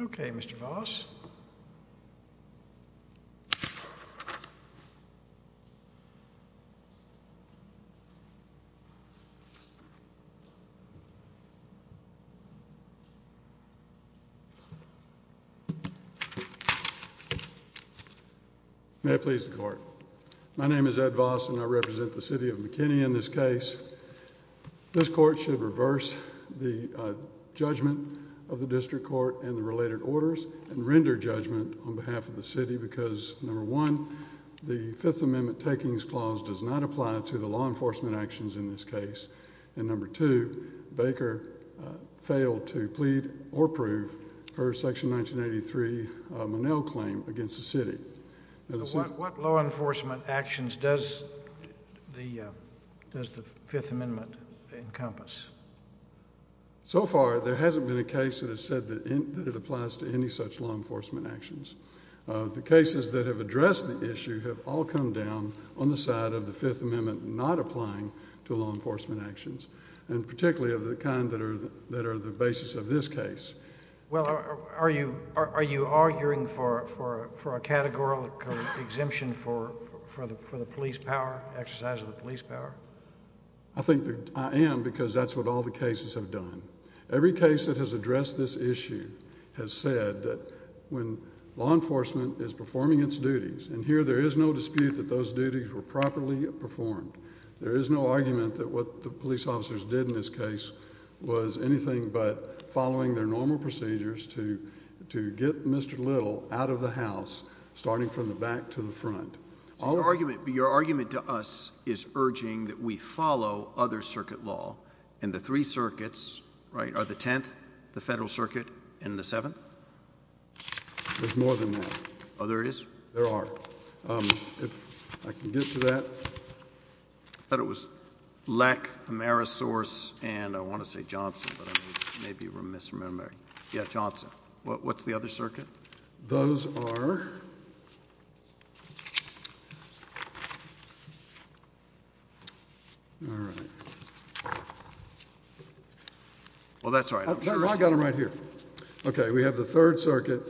Okay, Mr. Voss. May it please the court. My name is Ed Voss and I represent the City of McKinney in this case. This court should reverse the judgment of the district court and the related orders and render judgment on behalf of the city because, number one, the Fifth Amendment takings clause does not apply to the law enforcement actions in this case, and number two, Baker failed to plead or prove her Section 1983 Monell claim against the city. What law enforcement actions does the Fifth Amendment encompass? So far, there hasn't been a case that has said that it applies to any such law enforcement actions. The cases that have addressed the issue have all come down on the side of the Fifth Amendment not applying to law enforcement actions, and particularly of the kind that are the basis of this case. Well, are you arguing for a categorical exemption for the police power, exercise of the police power? I think that I am because that's what all the cases have done. Every case that has addressed this issue has said that when law enforcement is performing its duties, and here there is no dispute that those duties were properly performed, there is no argument that what the police officers did in this case was anything but following their normal procedures to get Mr. Little out of the house, starting from the back to the front. So your argument to us is urging that we follow other circuit law, and the three circuits, right, are the Tenth, the Federal Circuit, and the Seventh? There's more than one. Oh, there is? There are. If I can get to that. I thought it was Leck, Amerisource, and I want to say Johnson, but maybe we're misremembering. Yeah, Johnson. What's the other circuit? Those are... All right. Well, that's all right. I'm sure it's... I've got them right here. Okay. We have the Third Circuit,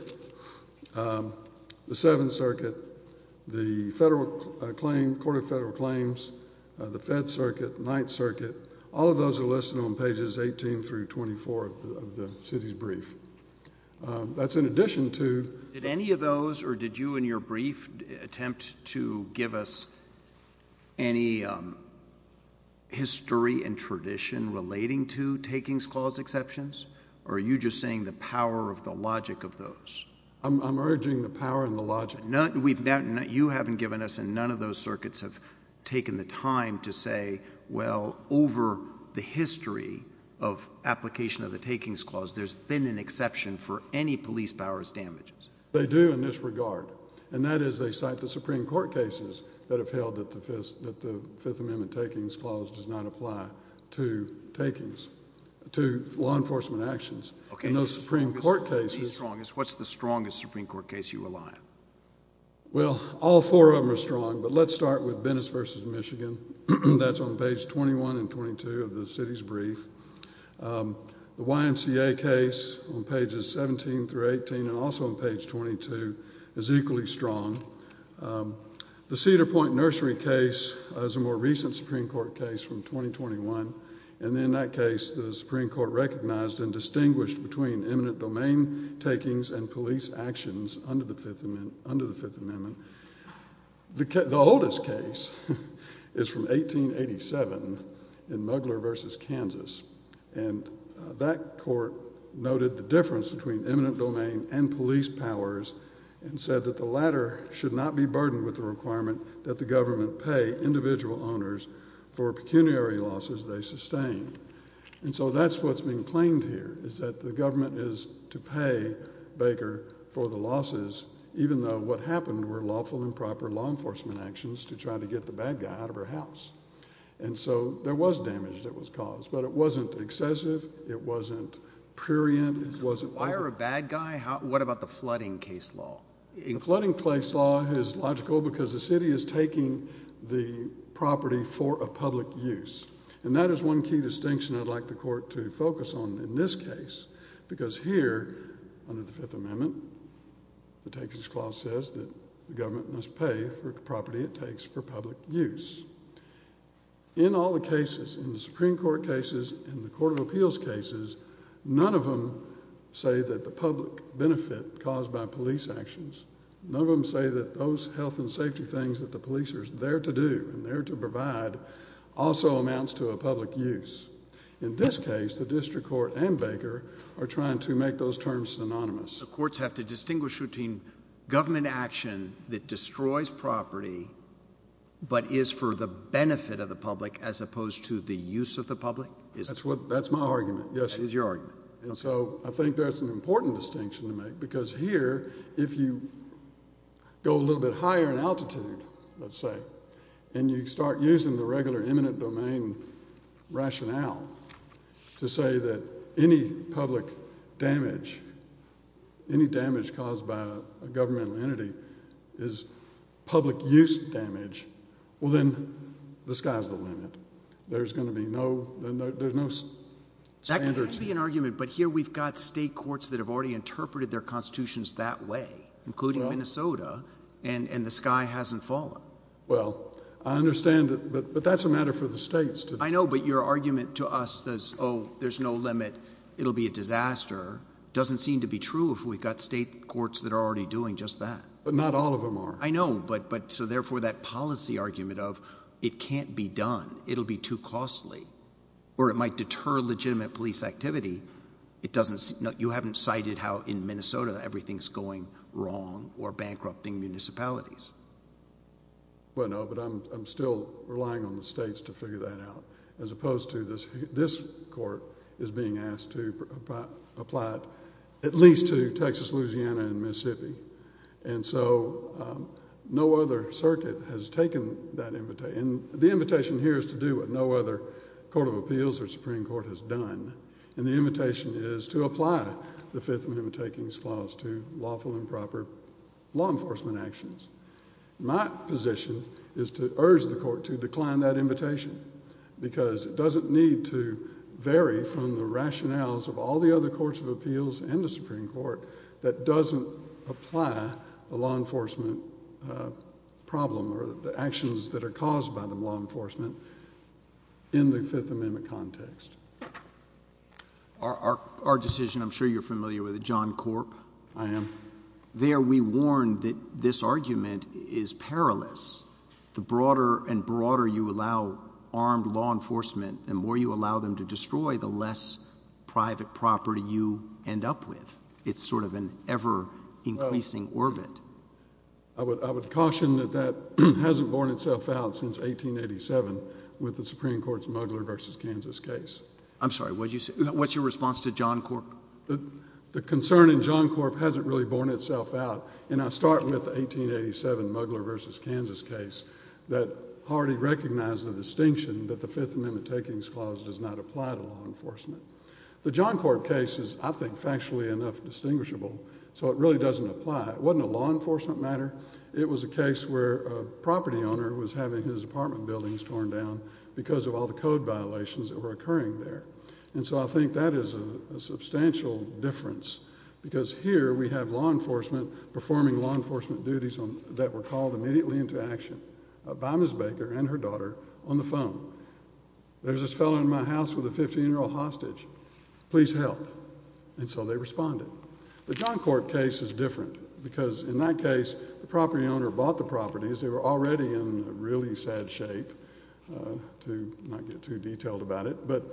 the Seventh Circuit, the Federal Claim, Court of Federal Claims, the Fed Circuit, Ninth Circuit. All of those are listed on pages 18 through 24 of the city's brief. That's in addition to... Did any of those, or did you in your brief attempt to give us any history and tradition relating to takings clause exceptions, or are you just saying the power of the logic of those? I'm urging the power and the logic. You haven't given us, and none of those circuits have taken the time to say, well, over the history of application of the takings clause, there's been an exception for any police powers damages. They do in this regard, and that is they cite the Supreme Court cases that have held that the Fifth Amendment takings clause does not apply to takings, to law enforcement actions. Okay. And those Supreme Court cases... Well, all four of them are strong, but let's start with Bennis v. Michigan. That's on page 21 and 22 of the city's brief. The YMCA case on pages 17 through 18, and also on page 22, is equally strong. The Cedar Point Nursery case is a more recent Supreme Court case from 2021, and in that case, the Supreme Court recognized and distinguished between eminent domain takings and police actions under the Fifth Amendment. The oldest case is from 1887 in Mugler v. Kansas, and that court noted the difference between eminent domain and police powers and said that the latter should not be burdened with the requirement that the government pay individual owners for pecuniary losses they sustain. And so that's what's being claimed here, is that the government is to pay Baker for the losses, even though what happened were lawful and proper law enforcement actions to try to get the bad guy out of her house. And so there was damage that was caused, but it wasn't excessive, it wasn't prurient, it wasn't... Why are a bad guy? What about the flooding case law? The flooding case law is logical because the city is taking the property for a public use, and that is one key distinction I'd like the court to focus on in this case, because here, under the Fifth Amendment, the Takings Clause says that the government must pay for the property it takes for public use. In all the cases, in the Supreme Court cases, in the court of appeals cases, none of them say that the public benefit caused by police actions, none of them say that those health and safety things that the police are there to do and there to provide also amounts to a public use. In this case, the district court and Baker are trying to make those terms synonymous. The courts have to distinguish between government action that destroys property but is for the benefit of the public as opposed to the use of the public? That's my argument, yes. That is your argument. And so I think that's an important distinction to make, because here, if you go a little bit higher in altitude, let's say, and you start using the regular eminent domain rationale to say that any public damage, any damage caused by a governmental entity is public use damage, well then, the sky's the limit. There's going to be no standards. That could be an argument, but here we've got state courts that have already interpreted their constitutions that way, including Minnesota, and the sky hasn't fallen. Well, I understand, but that's a matter for the states to decide. I know, but your argument to us is, oh, there's no limit, it'll be a disaster, doesn't seem to be true if we've got state courts that are already doing just that. But not all of them are. I know, but so therefore that policy argument of it can't be done, it'll be too costly, or it might deter legitimate police activity. You haven't cited how in Minnesota everything's going wrong or bankrupting municipalities. Well, no, but I'm still relying on the states to figure that out, as opposed to this court is being asked to apply it at least to Texas, Louisiana, and Mississippi. And so no other circuit has taken that invitation, and the invitation here is to do what no other court of appeals or Supreme Court has done, and the invitation is to apply the Fifth Amendment Takings Clause to lawful and proper law enforcement actions. My position is to urge the court to decline that invitation because it doesn't need to vary from the rationales of all the other courts of appeals and the Supreme Court that doesn't apply the law enforcement problem or the actions that are caused by the law enforcement in the Fifth Amendment context. Our decision, I'm sure you're familiar with it, John Corp. I am. There we warn that this argument is perilous. The broader and broader you allow armed law enforcement, the more you allow them to destroy, the less private property you end up with. It's sort of an ever-increasing orbit. I would caution that that hasn't borne itself out since 1887 with the Supreme Court's Mugler v. Kansas case. I'm sorry. What's your response to John Corp.? The concern in John Corp. hasn't really borne itself out, and I start with the 1887 Mugler v. Kansas case that already recognized the distinction that the Fifth Amendment Takings Clause does not apply to law enforcement. The John Corp. case is, I think, factually enough distinguishable, so it really doesn't apply. It wasn't a law enforcement matter. It was a case where a property owner was having his apartment buildings torn down because of all the code violations that were occurring there. I think that is a substantial difference because here we have law enforcement performing law enforcement duties that were called immediately into action by Ms. Baker and her daughter on the phone. There's this fellow in my house with a 15-year-old hostage. Please help. And so they responded. The John Corp. case is different because, in that case, the property owner bought the properties. They were already in really sad shape, to not get too detailed about it. But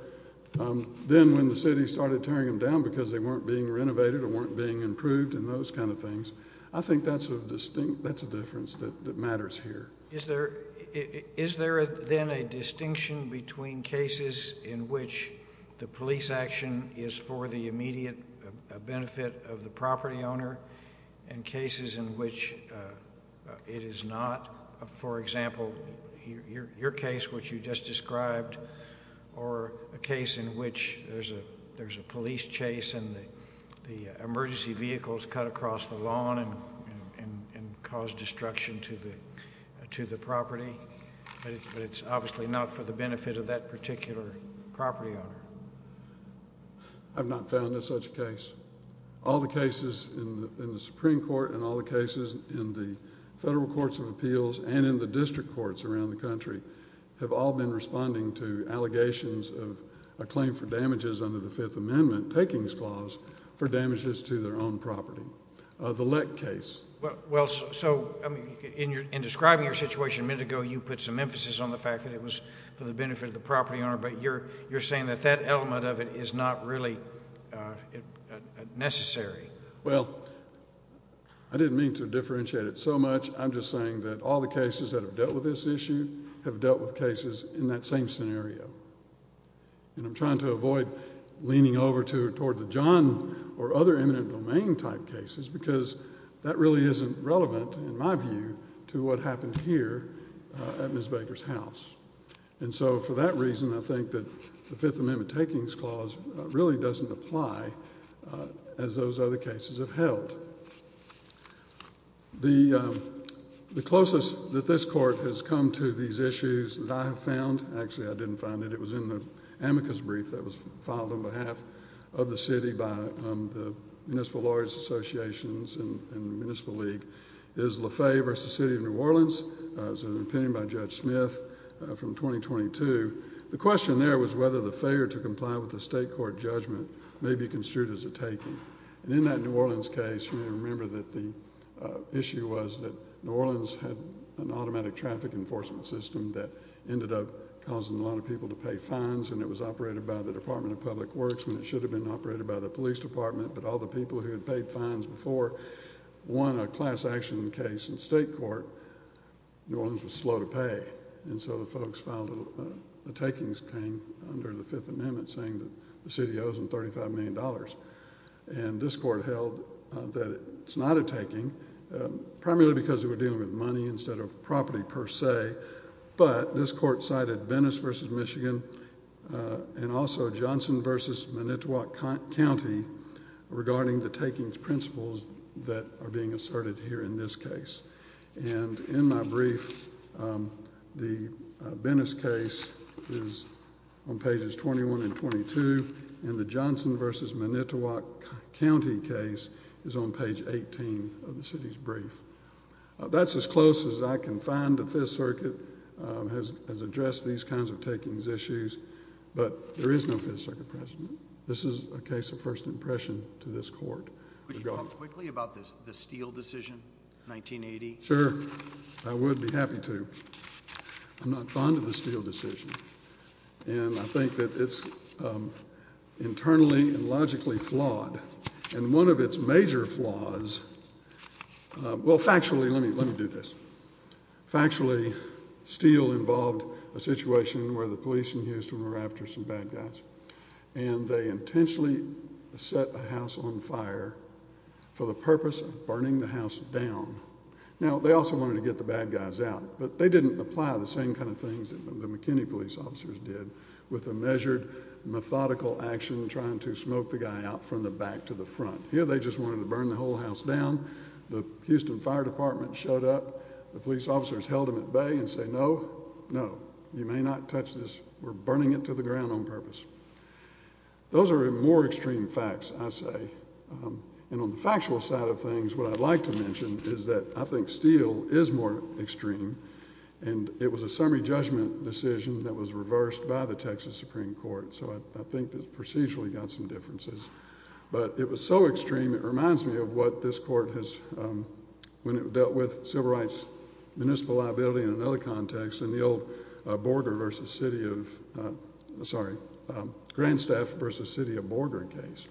then when the city started tearing them down because they weren't being renovated or weren't being improved and those kind of things, I think that's a distinct, that's a difference that matters here. Is there then a distinction between cases in which the police action is for the immediate benefit of the property owner and cases in which it is not? For example, your case, which you just described, or a case in which there's a police chase and the emergency vehicles cut across the lawn and caused destruction to the property. But it's obviously not for the benefit of that particular property owner. I've not found such a case. All the cases in the Supreme Court and all the cases in the federal courts of appeals and in the district courts around the country have all been responding to allegations of a claim for damages under the Fifth Amendment takings clause for damages to their own property. The Leck case. Well, so, in describing your situation a minute ago, you put some emphasis on the fact that it was for the benefit of the property owner, but you're saying that that element of it is not really necessary. Well, I didn't mean to differentiate it so much. I'm just saying that all the cases that have dealt with this issue have dealt with cases in that same scenario. And I'm trying to avoid leaning over toward the John or other eminent domain type cases because that really isn't relevant, in my view, to what happened here at Ms. Baker's house. And so, for that reason, I think that the Fifth Amendment takings clause really doesn't apply as those other cases have held. The closest that this Court has come to these issues that I have found Actually, I didn't find it. It was in the amicus brief that was filed on behalf of the City by the Municipal Lawyers Association and the Municipal League. It was Le Fay versus the City of New Orleans. It was an opinion by Judge Smith from 2022. The question there was whether the failure to comply with the state court judgment may be construed as a taking. And in that New Orleans case, you may remember that the issue was that New Orleans had an automatic traffic enforcement system that ended up causing a lot of people to pay fines. And it was operated by the Department of Public Works when it should have been operated by the Police Department. But all the people who had paid fines before won a class action case in state court. New Orleans was slow to pay. And so the folks filed a takings claim under the Fifth Amendment saying that the city owes them $35 million. And this Court held that it's not a taking, primarily because they were dealing with money instead of property per se. But this Court cited Venice v. Michigan and also Johnson v. Minnetowoc County regarding the takings principles that are being asserted here in this case. And in my brief, the Venice case is on pages 21 and 22, and the Johnson v. Minnetowoc County case is on page 18 of the City's brief. That's as close as I can find that Fifth Circuit has addressed these kinds of takings issues. But there is no Fifth Circuit precedent. This is a case of first impression to this Court. Would you talk quickly about the Steele decision, 1980? Sure. I would be happy to. I'm not fond of the Steele decision. And I think that it's internally and logically flawed. And one of its major flaws—well, factually, let me do this. Factually, Steele involved a situation where the police in Houston were after some bad guys, and they intentionally set a house on fire for the purpose of burning the house down. Now, they also wanted to get the bad guys out, but they didn't apply the same kind of things that the McKinney police officers did with a measured methodical action trying to smoke the guy out from the back to the front. Here they just wanted to burn the whole house down. The Houston Fire Department showed up. The police officers held them at bay and said, No, no, you may not touch this. We're burning it to the ground on purpose. Those are more extreme facts, I say. And on the factual side of things, what I'd like to mention is that I think Steele is more extreme, and it was a summary judgment decision that was reversed by the Texas Supreme Court, so I think the procedure got some differences. But it was so extreme, it reminds me of what this court has— when it dealt with civil rights, municipal liability in another context, in the old Border v. City of—sorry, Grandstaff v. City of Border case,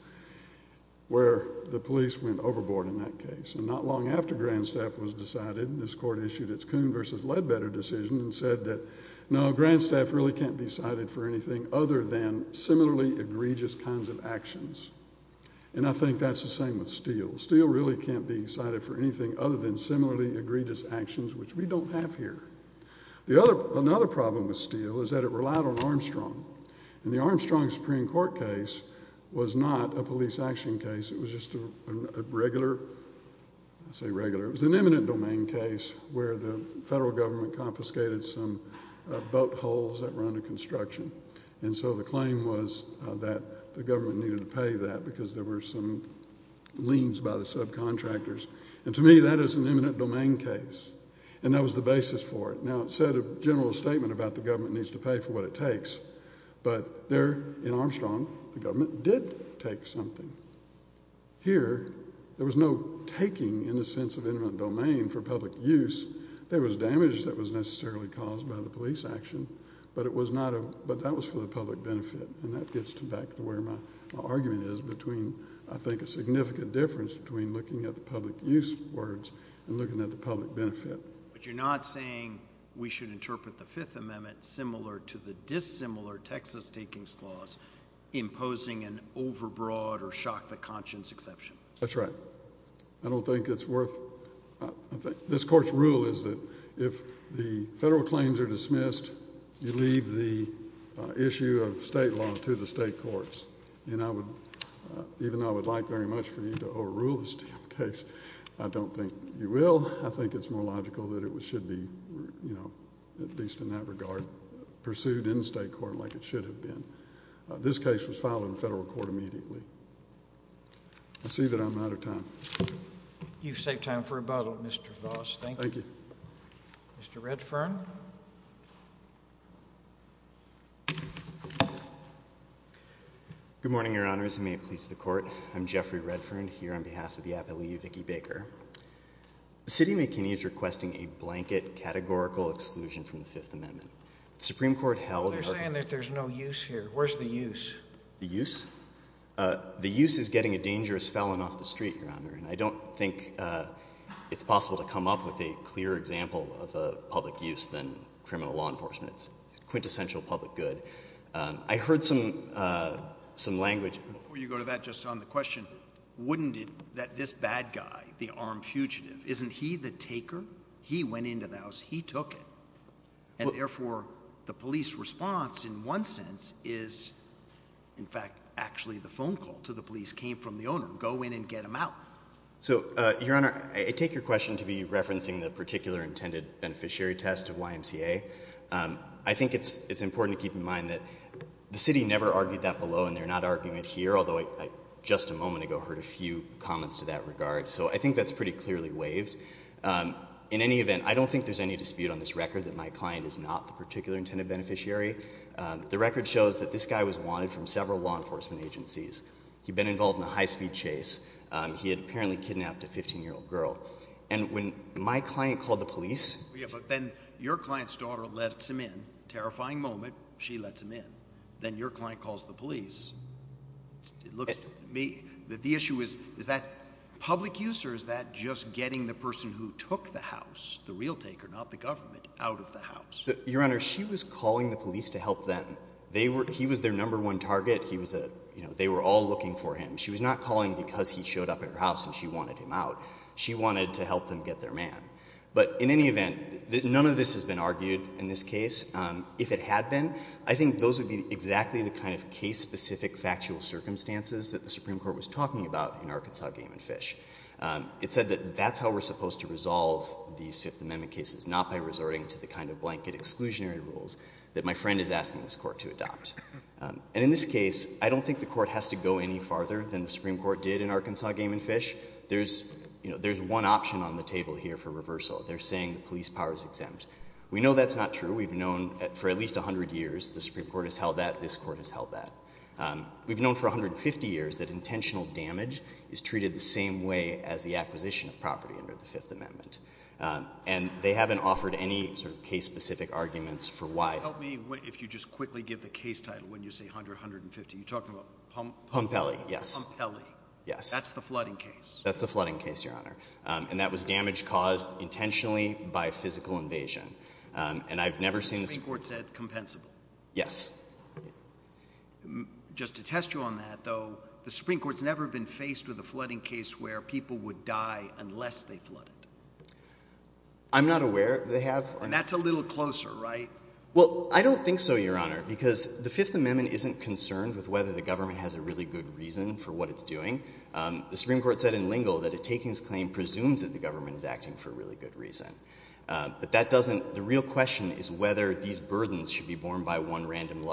where the police went overboard in that case. And not long after Grandstaff was decided, this court issued its Coon v. Ledbetter decision and said that, No, Grandstaff really can't be cited for anything other than similarly egregious kinds of actions. And I think that's the same with Steele. Steele really can't be cited for anything other than similarly egregious actions, which we don't have here. Another problem with Steele is that it relied on Armstrong. And the Armstrong Supreme Court case was not a police action case. It was just a regular—I say regular—it was an eminent domain case where the federal government confiscated some boat hulls that were under construction. And so the claim was that the government needed to pay that because there were some liens by the subcontractors. And to me, that is an eminent domain case, and that was the basis for it. Now, it said a general statement about the government needs to pay for what it takes, but there in Armstrong the government did take something. Here there was no taking in the sense of eminent domain for public use. There was damage that was necessarily caused by the police action, but that was for the public benefit. And that gets back to where my argument is between, I think, a significant difference between looking at the public use words and looking at the public benefit. But you're not saying we should interpret the Fifth Amendment similar to the dissimilar Texas takings clause, imposing an overbroad or shock-the-conscience exception. That's right. I don't think it's worth—this Court's rule is that if the federal claims are dismissed, you leave the issue of state law to the state courts. And even though I would like very much for you to overrule this case, I don't think you will. Well, I think it's more logical that it should be, at least in that regard, pursued in state court like it should have been. This case was filed in federal court immediately. I see that I'm out of time. You've saved time for rebuttal, Mr. Voss. Thank you. Mr. Redfern. Good morning, Your Honors, and may it please the Court. I'm Jeffrey Redfern here on behalf of the Appellee Vicki Baker. The city of McKinney is requesting a blanket categorical exclusion from the Fifth Amendment. The Supreme Court held— They're saying that there's no use here. Where's the use? The use? The use is getting a dangerous felon off the street, Your Honor, and I don't think it's possible to come up with a clearer example of a public use than criminal law enforcement. It's quintessential public good. I heard some language— Before you go to that, just on the question, wouldn't it that this bad guy, the armed fugitive, isn't he the taker? He went into the house. He took it. And therefore, the police response in one sense is, in fact, actually the phone call to the police came from the owner. Go in and get him out. So, Your Honor, I take your question to be referencing the particular intended beneficiary test of YMCA. I think it's important to keep in mind that the city never argued that below, and they're not arguing it here, although I just a moment ago heard a few comments to that regard. So I think that's pretty clearly waived. In any event, I don't think there's any dispute on this record that my client is not the particular intended beneficiary. The record shows that this guy was wanted from several law enforcement agencies. He'd been involved in a high-speed chase. He had apparently kidnapped a 15-year-old girl. And when my client called the police— Yeah, but then your client's daughter lets him in. Terrifying moment. She lets him in. Then your client calls the police. It looks to me that the issue is, is that public use or is that just getting the person who took the house, the real taker, not the government, out of the house? Your Honor, she was calling the police to help them. He was their number one target. They were all looking for him. She was not calling because he showed up at her house and she wanted him out. She wanted to help them get their man. But in any event, none of this has been argued in this case. If it had been, I think those would be exactly the kind of case-specific factual circumstances that the Supreme Court was talking about in Arkansas Game and Fish. It said that that's how we're supposed to resolve these Fifth Amendment cases, not by resorting to the kind of blanket exclusionary rules that my friend is asking this Court to adopt. And in this case, I don't think the Court has to go any farther than the Supreme Court did in Arkansas Game and Fish. There's one option on the table here for reversal. They're saying the police power is exempt. We know that's not true. We've known for at least 100 years the Supreme Court has held that. This Court has held that. We've known for 150 years that intentional damage is treated the same way as the acquisition of property under the Fifth Amendment. And they haven't offered any sort of case-specific arguments for why. Help me if you just quickly give the case title when you say 100, 150. You're talking about Pompeli. Yes. Pompeli. Yes. That's the flooding case. That's the flooding case, Your Honor. And that was damage caused intentionally by physical invasion. And I've never seen the Supreme Court say it's compensable. Yes. Just to test you on that, though, the Supreme Court's never been faced with a flooding case where people would die unless they flooded. I'm not aware they have. And that's a little closer, right? Well, I don't think so, Your Honor, because the Fifth Amendment isn't concerned with whether the government has a really good reason for what it's doing. The Supreme Court said in Lingle that a takings claim presumes that the government is acting for a really good reason. But the real question is whether these burdens should be borne by one random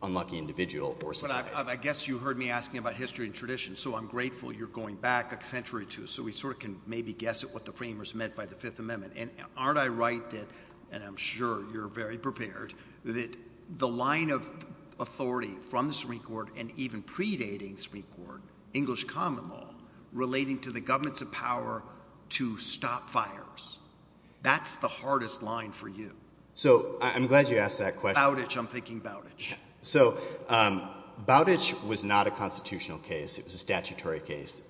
unlucky individual or society. But I guess you heard me asking about history and tradition, so I'm grateful you're going back a century or two so we sort of can maybe guess at what the framers meant by the Fifth Amendment. And aren't I right that, and I'm sure you're very prepared, that the line of authority from the Supreme Court and even predating the Supreme Court, English common law, relating to the governments of power to stop fires, that's the hardest line for you. So I'm glad you asked that question. Bowditch. I'm thinking Bowditch. So Bowditch was not a constitutional case. It was a statutory case.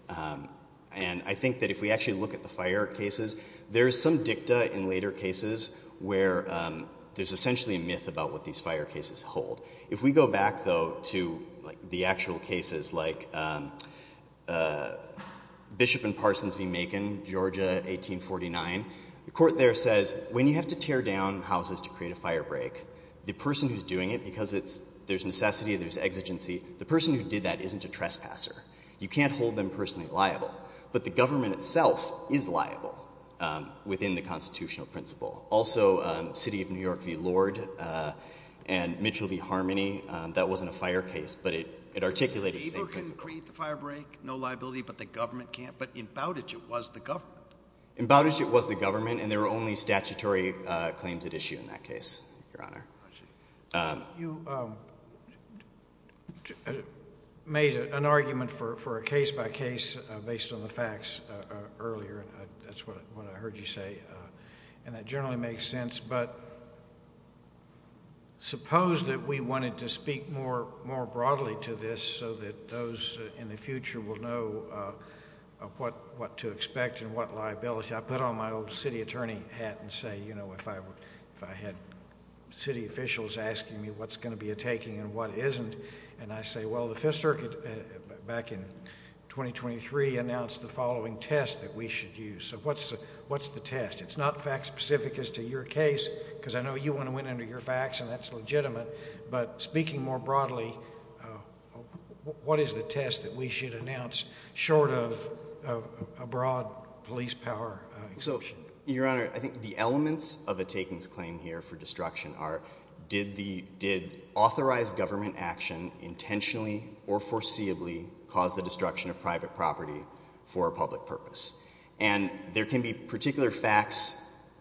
And I think that if we actually look at the fire cases, there is some dicta in later cases where there's essentially a myth about what these fire cases hold. If we go back, though, to the actual cases like Bishop and Parsons v. Macon, Georgia, 1849, the court there says when you have to tear down houses to create a fire break, the person who's doing it, because there's necessity, there's exigency, the person who did that isn't a trespasser. You can't hold them personally liable. But the government itself is liable within the constitutional principle. Also, City of New York v. Lord and Mitchell v. Harmony, that wasn't a fire case, but it articulated the same principle. So the labor can create the fire break, no liability, but the government can't? But in Bowditch, it was the government. In Bowditch, it was the government, and there were only statutory claims at issue in that case, Your Honor. You made an argument for a case-by-case based on the facts earlier. That's what I heard you say, and that generally makes sense. But suppose that we wanted to speak more broadly to this so that those in the future will know what to expect and what liability. I put on my old city attorney hat and say, you know, if I had city officials asking me what's going to be a taking and what isn't, and I say, well, the Fifth Circuit back in 2023 announced the following test that we should use. So what's the test? It's not fact-specific as to your case, because I know you want to win under your facts, and that's legitimate. But speaking more broadly, what is the test that we should announce short of a broad police power? So, Your Honor, I think the elements of a takings claim here for destruction are did authorized government action intentionally or foreseeably cause the destruction of private property for a public purpose? And there can be particular facts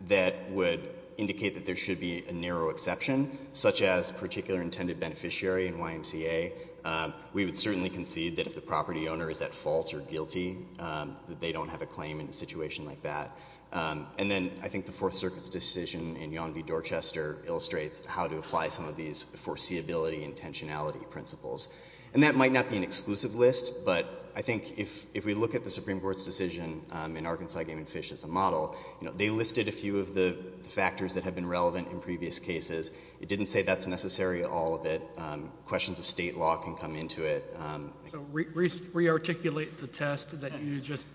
that would indicate that there should be a narrow exception, such as particular intended beneficiary in YMCA. We would certainly concede that if the property owner is at fault or guilty, that they don't have a claim in a situation like that. And then I think the Fourth Circuit's decision in Yon v. Dorchester illustrates how to apply some of these foreseeability intentionality principles. And that might not be an exclusive list, but I think if we look at the Supreme Court's decision in Arkansas against Fish as a model, they listed a few of the factors that have been relevant in previous cases. It didn't say that's necessary in all of it. Questions of state law can come into it. So re-articulate the test that you just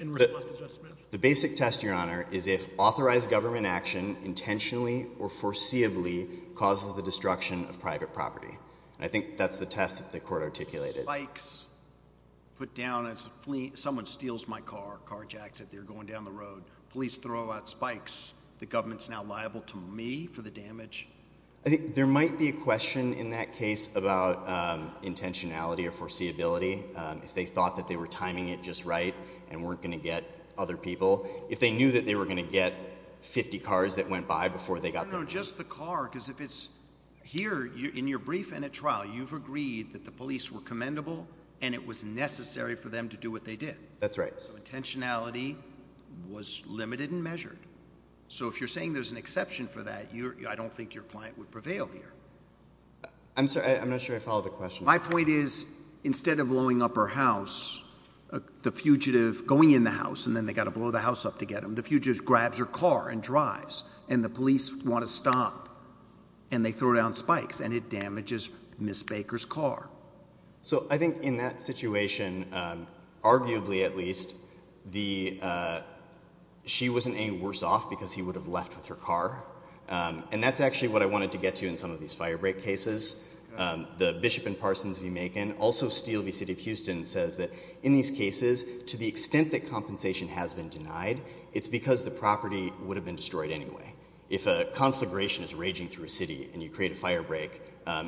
in response to Judge Smith. Sure. The basic test, Your Honor, is if authorized government action intentionally or foreseeably causes the destruction of private property. And I think that's the test that the Court articulated. Spikes put down as someone steals my car, carjacks it, they're going down the road. Police throw out spikes. The government's now liable to me for the damage? I think there might be a question in that case about intentionality or foreseeability. If they thought that they were timing it just right and weren't going to get other people. If they knew that they were going to get 50 cars that went by before they got there. No, just the car because if it's here in your brief and at trial, you've agreed that the police were commendable and it was necessary for them to do what they did. That's right. So intentionality was limited and measured. So if you're saying there's an exception for that, I don't think your client would prevail here. I'm not sure I follow the question. My point is instead of blowing up her house, the fugitive going in the house and then they've got to blow the house up to get them, the fugitive grabs her car and drives and the police want to stop and they throw down spikes and it damages Ms. Baker's car. So I think in that situation, arguably at least, she wasn't any worse off because he would have left with her car. And that's actually what I wanted to get to in some of these firebreak cases. The Bishop in Parsons v. Macon, also Steele v. City of Houston, says that in these cases, to the extent that compensation has been denied, it's because the property would have been destroyed anyway. If a conflagration is raging through a city and you create a firebreak,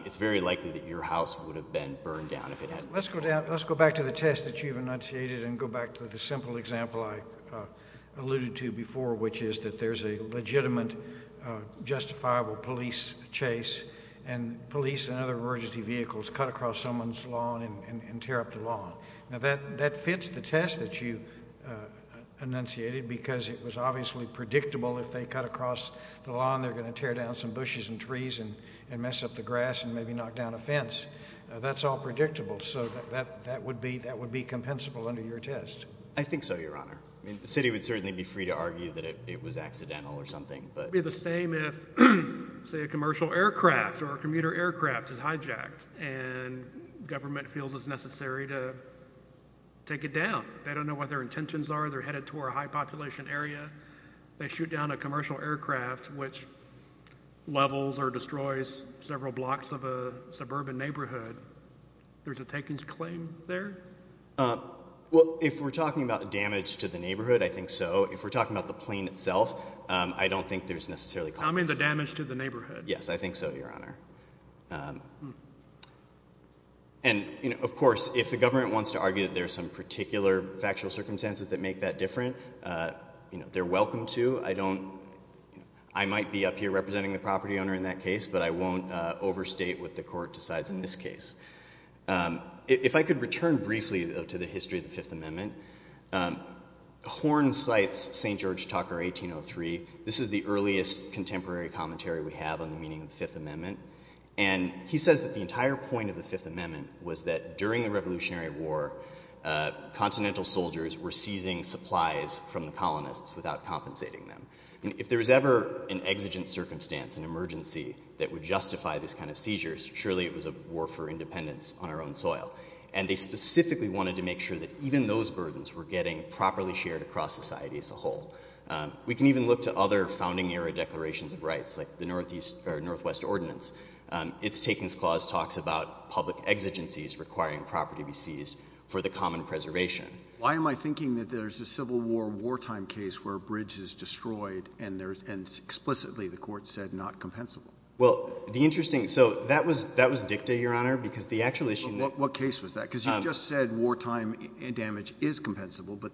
it's very likely that your house would have been burned down if it hadn't. Let's go back to the test that you've enunciated and go back to the simple example I alluded to before, which is that there's a legitimate justifiable police chase and police and other emergency vehicles cut across someone's lawn and tear up the lawn. Now, that fits the test that you enunciated because it was obviously predictable if they cut across the lawn, they're going to tear down some bushes and trees and mess up the grass and maybe knock down a fence. That's all predictable. So that would be compensable under your test. I think so, Your Honor. The city would certainly be free to argue that it was accidental or something. It would be the same if, say, a commercial aircraft or a commuter aircraft is hijacked and government feels it's necessary to take it down. They don't know what their intentions are. They're headed toward a high-population area. They shoot down a commercial aircraft which levels or destroys several blocks of a suburban neighborhood. There's a takings claim there? Well, if we're talking about damage to the neighborhood, I think so. If we're talking about the plane itself, I don't think there's necessarily – I mean the damage to the neighborhood. Yes, I think so, Your Honor. And, of course, if the government wants to argue that there's some particular factual circumstances that make that different, they're welcome to. I might be up here representing the property owner in that case, but I won't overstate what the court decides in this case. If I could return briefly, though, to the history of the Fifth Amendment, Horn cites St. George Tucker, 1803. This is the earliest contemporary commentary we have on the meaning of the Fifth Amendment. And he says that the entire point of the Fifth Amendment was that during the Revolutionary War, continental soldiers were seizing supplies from the colonists without compensating them. And if there was ever an exigent circumstance, an emergency, that would justify this kind of seizures, surely it was a war for independence on our own soil. And they specifically wanted to make sure that even those burdens were getting properly shared across society as a whole. We can even look to other founding-era declarations of rights, like the Northwest Ordinance. Its takings clause talks about public exigencies requiring property be seized for the common preservation. Why am I thinking that there's a Civil War wartime case where a bridge is destroyed and explicitly the court said not compensable? Well, the interesting — so that was dicta, Your Honor, because the actual issue — But what case was that? Because you just said wartime damage is compensable, but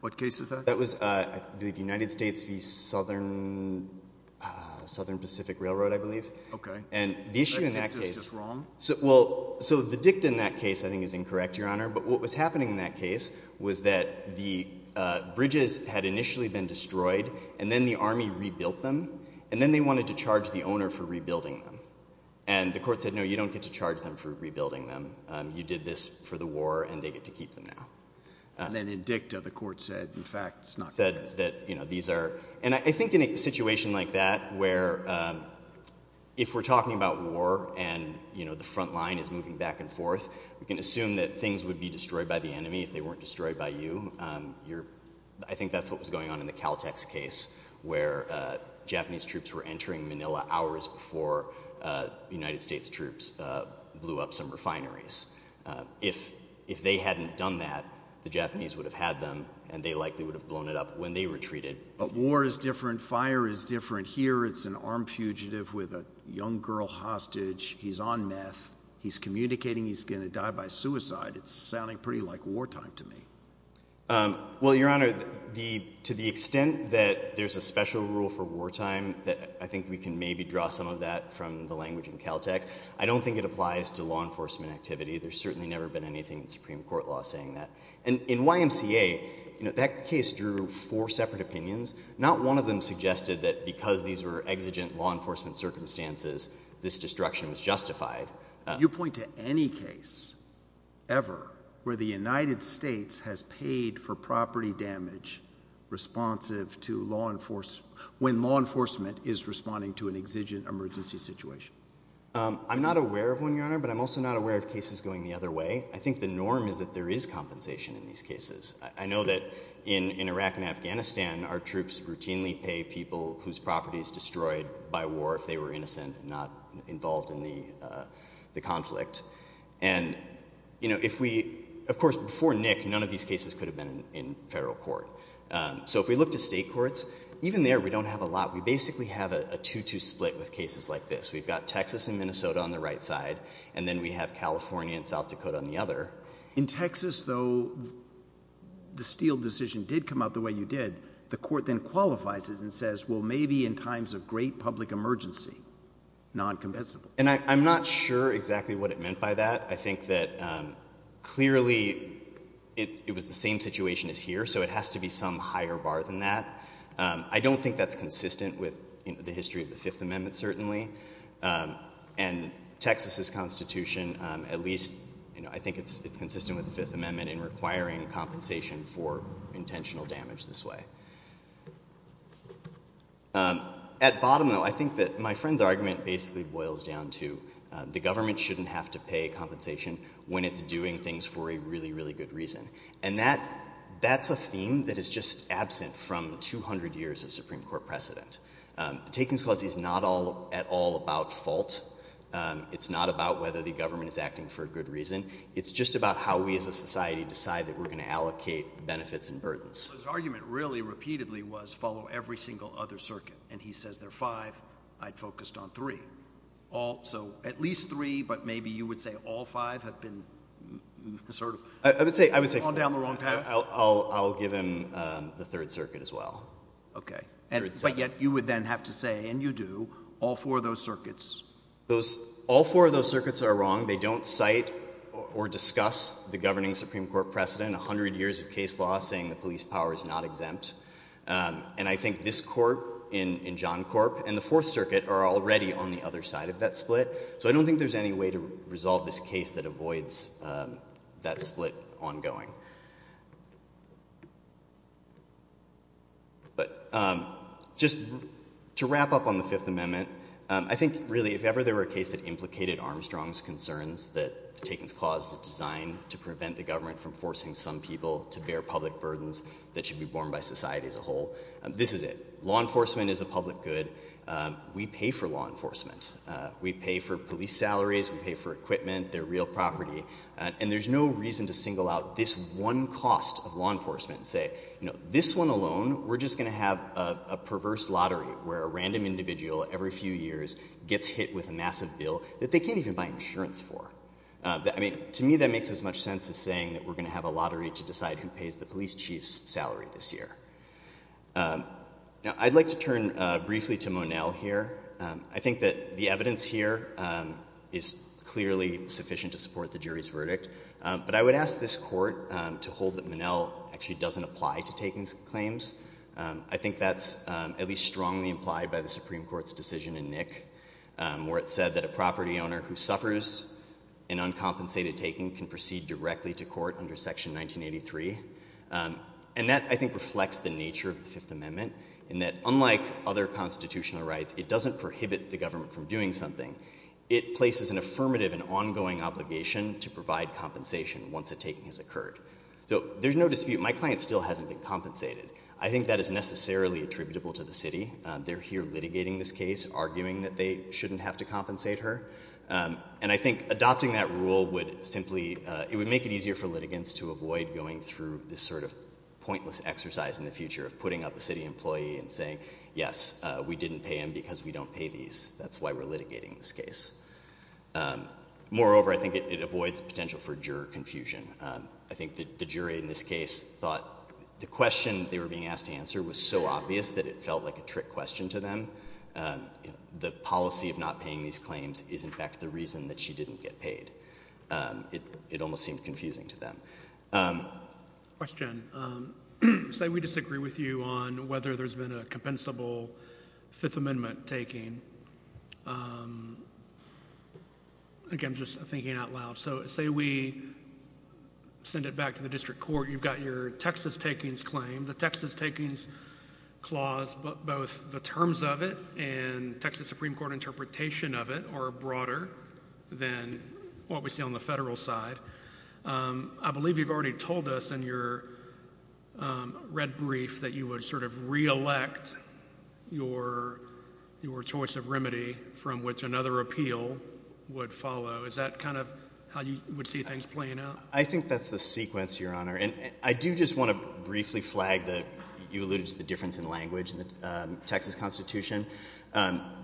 what case is that? That was, I believe, United States v. Southern Pacific Railroad, I believe. Okay. And the issue in that case — I think it's just wrong. Well, so the dicta in that case I think is incorrect, Your Honor, but what was happening in that case was that the bridges had initially been destroyed and then the Army rebuilt them, and then they wanted to charge the owner for rebuilding them. And the court said, no, you don't get to charge them for rebuilding them. You did this for the war, and they get to keep them now. And then in dicta the court said, in fact, it's not compensable. And I think in a situation like that where if we're talking about war and the front line is moving back and forth, we can assume that things would be destroyed by the enemy if they weren't destroyed by you. I think that's what was going on in the Caltex case where Japanese troops were entering Manila hours before United States troops blew up some refineries. If they hadn't done that, the Japanese would have had them, and they likely would have blown it up when they retreated. But war is different. Fire is different. Here it's an armed fugitive with a young girl hostage. He's on meth. He's communicating he's going to die by suicide. It's sounding pretty like wartime to me. Well, Your Honor, to the extent that there's a special rule for wartime, I think we can maybe draw some of that from the language in Caltex. I don't think it applies to law enforcement activity. There's certainly never been anything in Supreme Court law saying that. And in YMCA, that case drew four separate opinions. Not one of them suggested that because these were exigent law enforcement circumstances, this destruction was justified. You point to any case ever where the United States has paid for property damage when law enforcement is responding to an exigent emergency situation? I'm not aware of one, Your Honor, but I'm also not aware of cases going the other way. I think the norm is that there is compensation in these cases. I know that in Iraq and Afghanistan, our troops routinely pay people whose property is destroyed by war if they were innocent and not involved in the conflict. Of course, before Nick, none of these cases could have been in federal court. So if we look to state courts, even there we don't have a lot. We basically have a two-two split with cases like this. We've got Texas and Minnesota on the right side, and then we have California and South Dakota on the other. In Texas, though, the Steele decision did come out the way you did. The court then qualifies it and says, well, maybe in times of great public emergency, noncompensable. And I'm not sure exactly what it meant by that. I think that clearly it was the same situation as here, so it has to be some higher bar than that. I don't think that's consistent with the history of the Fifth Amendment, certainly. And Texas's Constitution, at least, I think it's consistent with the Fifth Amendment in requiring compensation for intentional damage this way. At bottom, though, I think that my friend's argument basically boils down to the government shouldn't have to pay compensation when it's doing things for a really, really good reason. And that's a theme that is just absent from 200 years of Supreme Court precedent. The Takings Clause is not at all about fault. It's not about whether the government is acting for a good reason. It's just about how we as a society decide that we're going to allocate benefits and burdens. So his argument really repeatedly was follow every single other circuit. And he says there are five. I'd focused on three. So at least three, but maybe you would say all five have been assertive. I would say I'll give him the Third Circuit as well. Okay. But yet you would then have to say, and you do, all four of those circuits. All four of those circuits are wrong. They don't cite or discuss the governing Supreme Court precedent, 100 years of case law saying the police power is not exempt. And I think this court in John Corp and the Fourth Circuit are already on the other side of that split. So I don't think there's any way to resolve this case that avoids that split ongoing. But just to wrap up on the Fifth Amendment, I think really if ever there were a case that implicated Armstrong's concerns that the Takings Clause is designed to prevent the government from forcing some people to bear public burdens that should be borne by society as a whole, this is it. Law enforcement is a public good. We pay for law enforcement. We pay for police salaries. We pay for equipment, their real property. And there's no reason to single out this one cost of law enforcement and say, you know, this one alone we're just going to have a perverse lottery where a random individual every few years gets hit with a massive bill that they can't even buy insurance for. I mean, to me that makes as much sense as saying that we're going to have a lottery to decide who pays the police chief's salary this year. Now, I'd like to turn briefly to Monell here. I think that the evidence here is clearly sufficient to support the jury's verdict. But I would ask this court to hold that Monell actually doesn't apply to Takings claims. I think that's at least strongly implied by the Supreme Court's decision in Nick where it said that a property owner who suffers an uncompensated taking can proceed directly to court under Section 1983. And that, I think, reflects the nature of the Fifth Amendment in that unlike other constitutional rights, it doesn't prohibit the government from doing something. It places an affirmative and ongoing obligation to provide compensation once a taking has occurred. So there's no dispute. My client still hasn't been compensated. I think that is necessarily attributable to the city. They're here litigating this case, arguing that they shouldn't have to compensate her. And I think adopting that rule would simply make it easier for litigants to avoid going through this sort of pointless exercise in the future of putting up a city employee and saying, yes, we didn't pay him because we don't pay these. That's why we're litigating this case. Moreover, I think it avoids potential for juror confusion. I think the jury in this case thought the question they were being asked to answer was so obvious that it felt like a trick question to them. The policy of not paying these claims is, in fact, the reason that she didn't get paid. It almost seemed confusing to them. Question. Say we disagree with you on whether there's been a compensable Fifth Amendment taking. Again, just thinking out loud. So say we send it back to the district court. You've got your Texas takings claim. The Texas takings clause, both the terms of it and Texas Supreme Court interpretation of it, are broader than what we see on the federal side. I believe you've already told us in your red brief that you would sort of reelect your choice of remedy from which another appeal would follow. Is that kind of how you would see things playing out? I think that's the sequence, Your Honor. I do just want to briefly flag that you alluded to the difference in language in the Texas Constitution.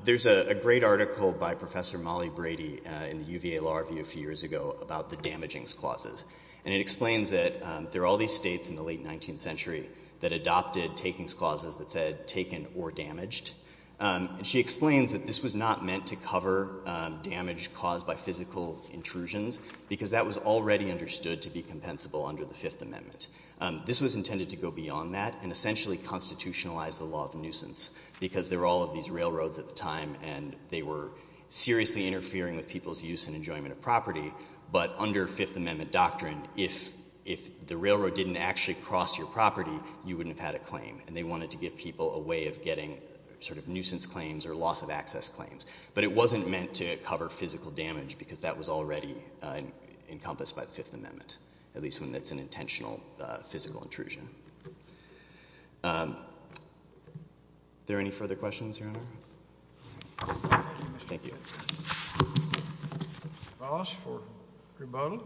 There's a great article by Professor Molly Brady in the UVA Law Review a few years ago about the damagings clauses, and it explains that there are all these states in the late 19th century that adopted takings clauses that said taken or damaged. She explains that this was not meant to cover damage caused by physical intrusions because that was already understood to be compensable under the Fifth Amendment. This was intended to go beyond that and essentially constitutionalize the law of nuisance because there were all of these railroads at the time and they were seriously interfering with people's use and enjoyment of property. But under Fifth Amendment doctrine, if the railroad didn't actually cross your property, you wouldn't have had a claim. And they wanted to give people a way of getting sort of nuisance claims or loss of access claims. But it wasn't meant to cover physical damage because that was already encompassed by the Fifth Amendment, at least when it's an intentional physical intrusion. Are there any further questions, Your Honor? Thank you. Thank you. Ross for Grubodel.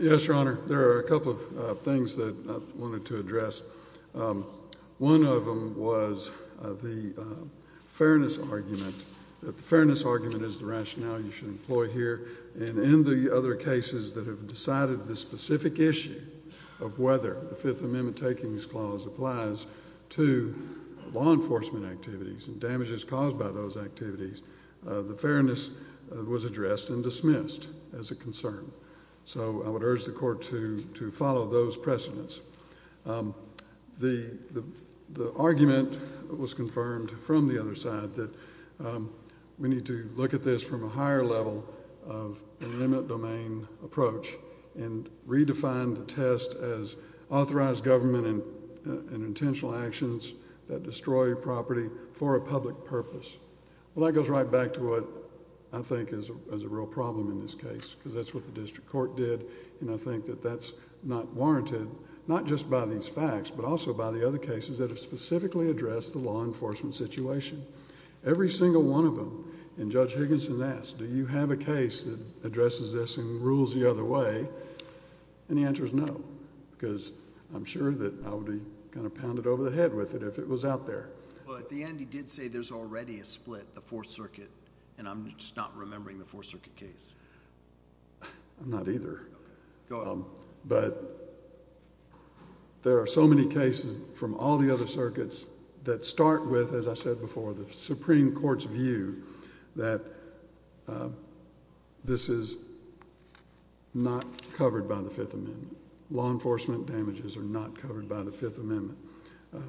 Yes, Your Honor. There are a couple of things that I wanted to address. One of them was the fairness argument. The fairness argument is the rationale you should employ here, and in the other cases that have decided the specific issue of whether the Fifth Amendment takings clause applies to law enforcement activities and damages caused by those activities, the fairness was addressed and dismissed as a concern. So I would urge the Court to follow those precedents. The argument was confirmed from the other side that we need to look at this from a higher level of an imminent domain approach and redefine the test as authorized government and intentional actions that destroy property for a public purpose. Well, that goes right back to what I think is a real problem in this case because that's what the district court did, and I think that that's not warranted, not just by these facts but also by the other cases that have specifically addressed the law enforcement situation. Every single one of them, and Judge Higginson asked, do you have a case that addresses this and rules the other way, and the answer is no because I'm sure that I would be kind of pounded over the head with it if it was out there. Well, at the end he did say there's already a split, the Fourth Circuit, and I'm just not remembering the Fourth Circuit case. I'm not either. But there are so many cases from all the other circuits that start with, as I said before, the Supreme Court's view that this is not covered by the Fifth Amendment. Law enforcement damages are not covered by the Fifth Amendment.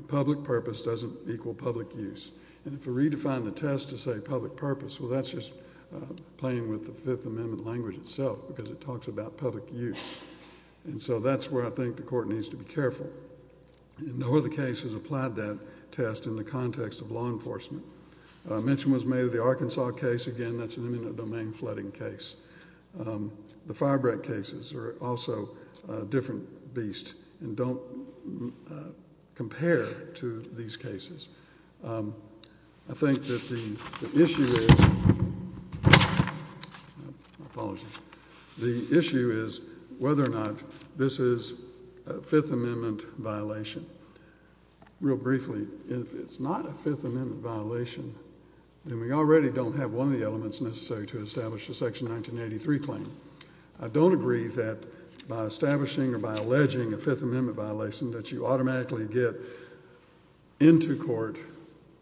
Public purpose doesn't equal public use, and if we redefine the test to say public purpose, well, that's just playing with the Fifth Amendment language itself because it talks about public use, and so that's where I think the court needs to be careful. No other case has applied that test in the context of law enforcement. A mention was made of the Arkansas case. Again, that's an imminent domain flooding case. The firebreak cases are also a different beast and don't compare to these cases. I think that the issue is whether or not this is a Fifth Amendment violation. Real briefly, if it's not a Fifth Amendment violation, then we already don't have one of the elements necessary to establish the Section 1983 claim. I don't agree that by establishing or by alleging a Fifth Amendment violation that you automatically get into court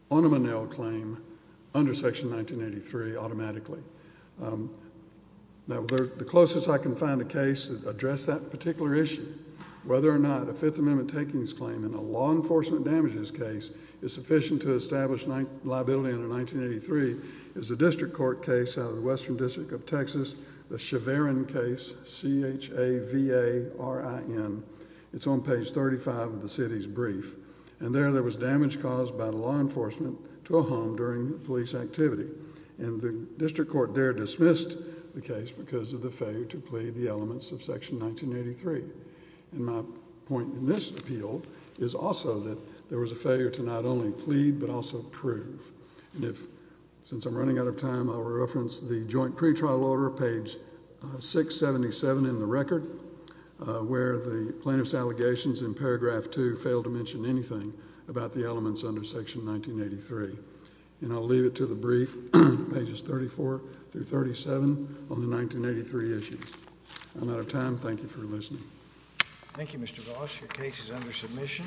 on a Monell claim under Section 1983 automatically. The closest I can find a case that addressed that particular issue, whether or not a Fifth Amendment takings claim in a law enforcement damages case is sufficient to establish liability under 1983 is a district court case out of the Western District of Texas, the Chavarin case, C-H-A-V-A-R-I-N. It's on page 35 of the city's brief. There, there was damage caused by the law enforcement to a home during police activity. The district court there dismissed the case because of the failure to plead the elements of Section 1983. My point in this appeal is also that there was a failure to not only plead but also prove. Since I'm running out of time, I'll reference the joint pretrial order, page 677 in the record, where the plaintiff's allegations in paragraph 2 fail to mention anything about the elements under Section 1983. And I'll leave it to the brief, pages 34 through 37, on the 1983 issues. I'm out of time. Thank you for listening. Thank you, Mr. Goss. Your case is under submission.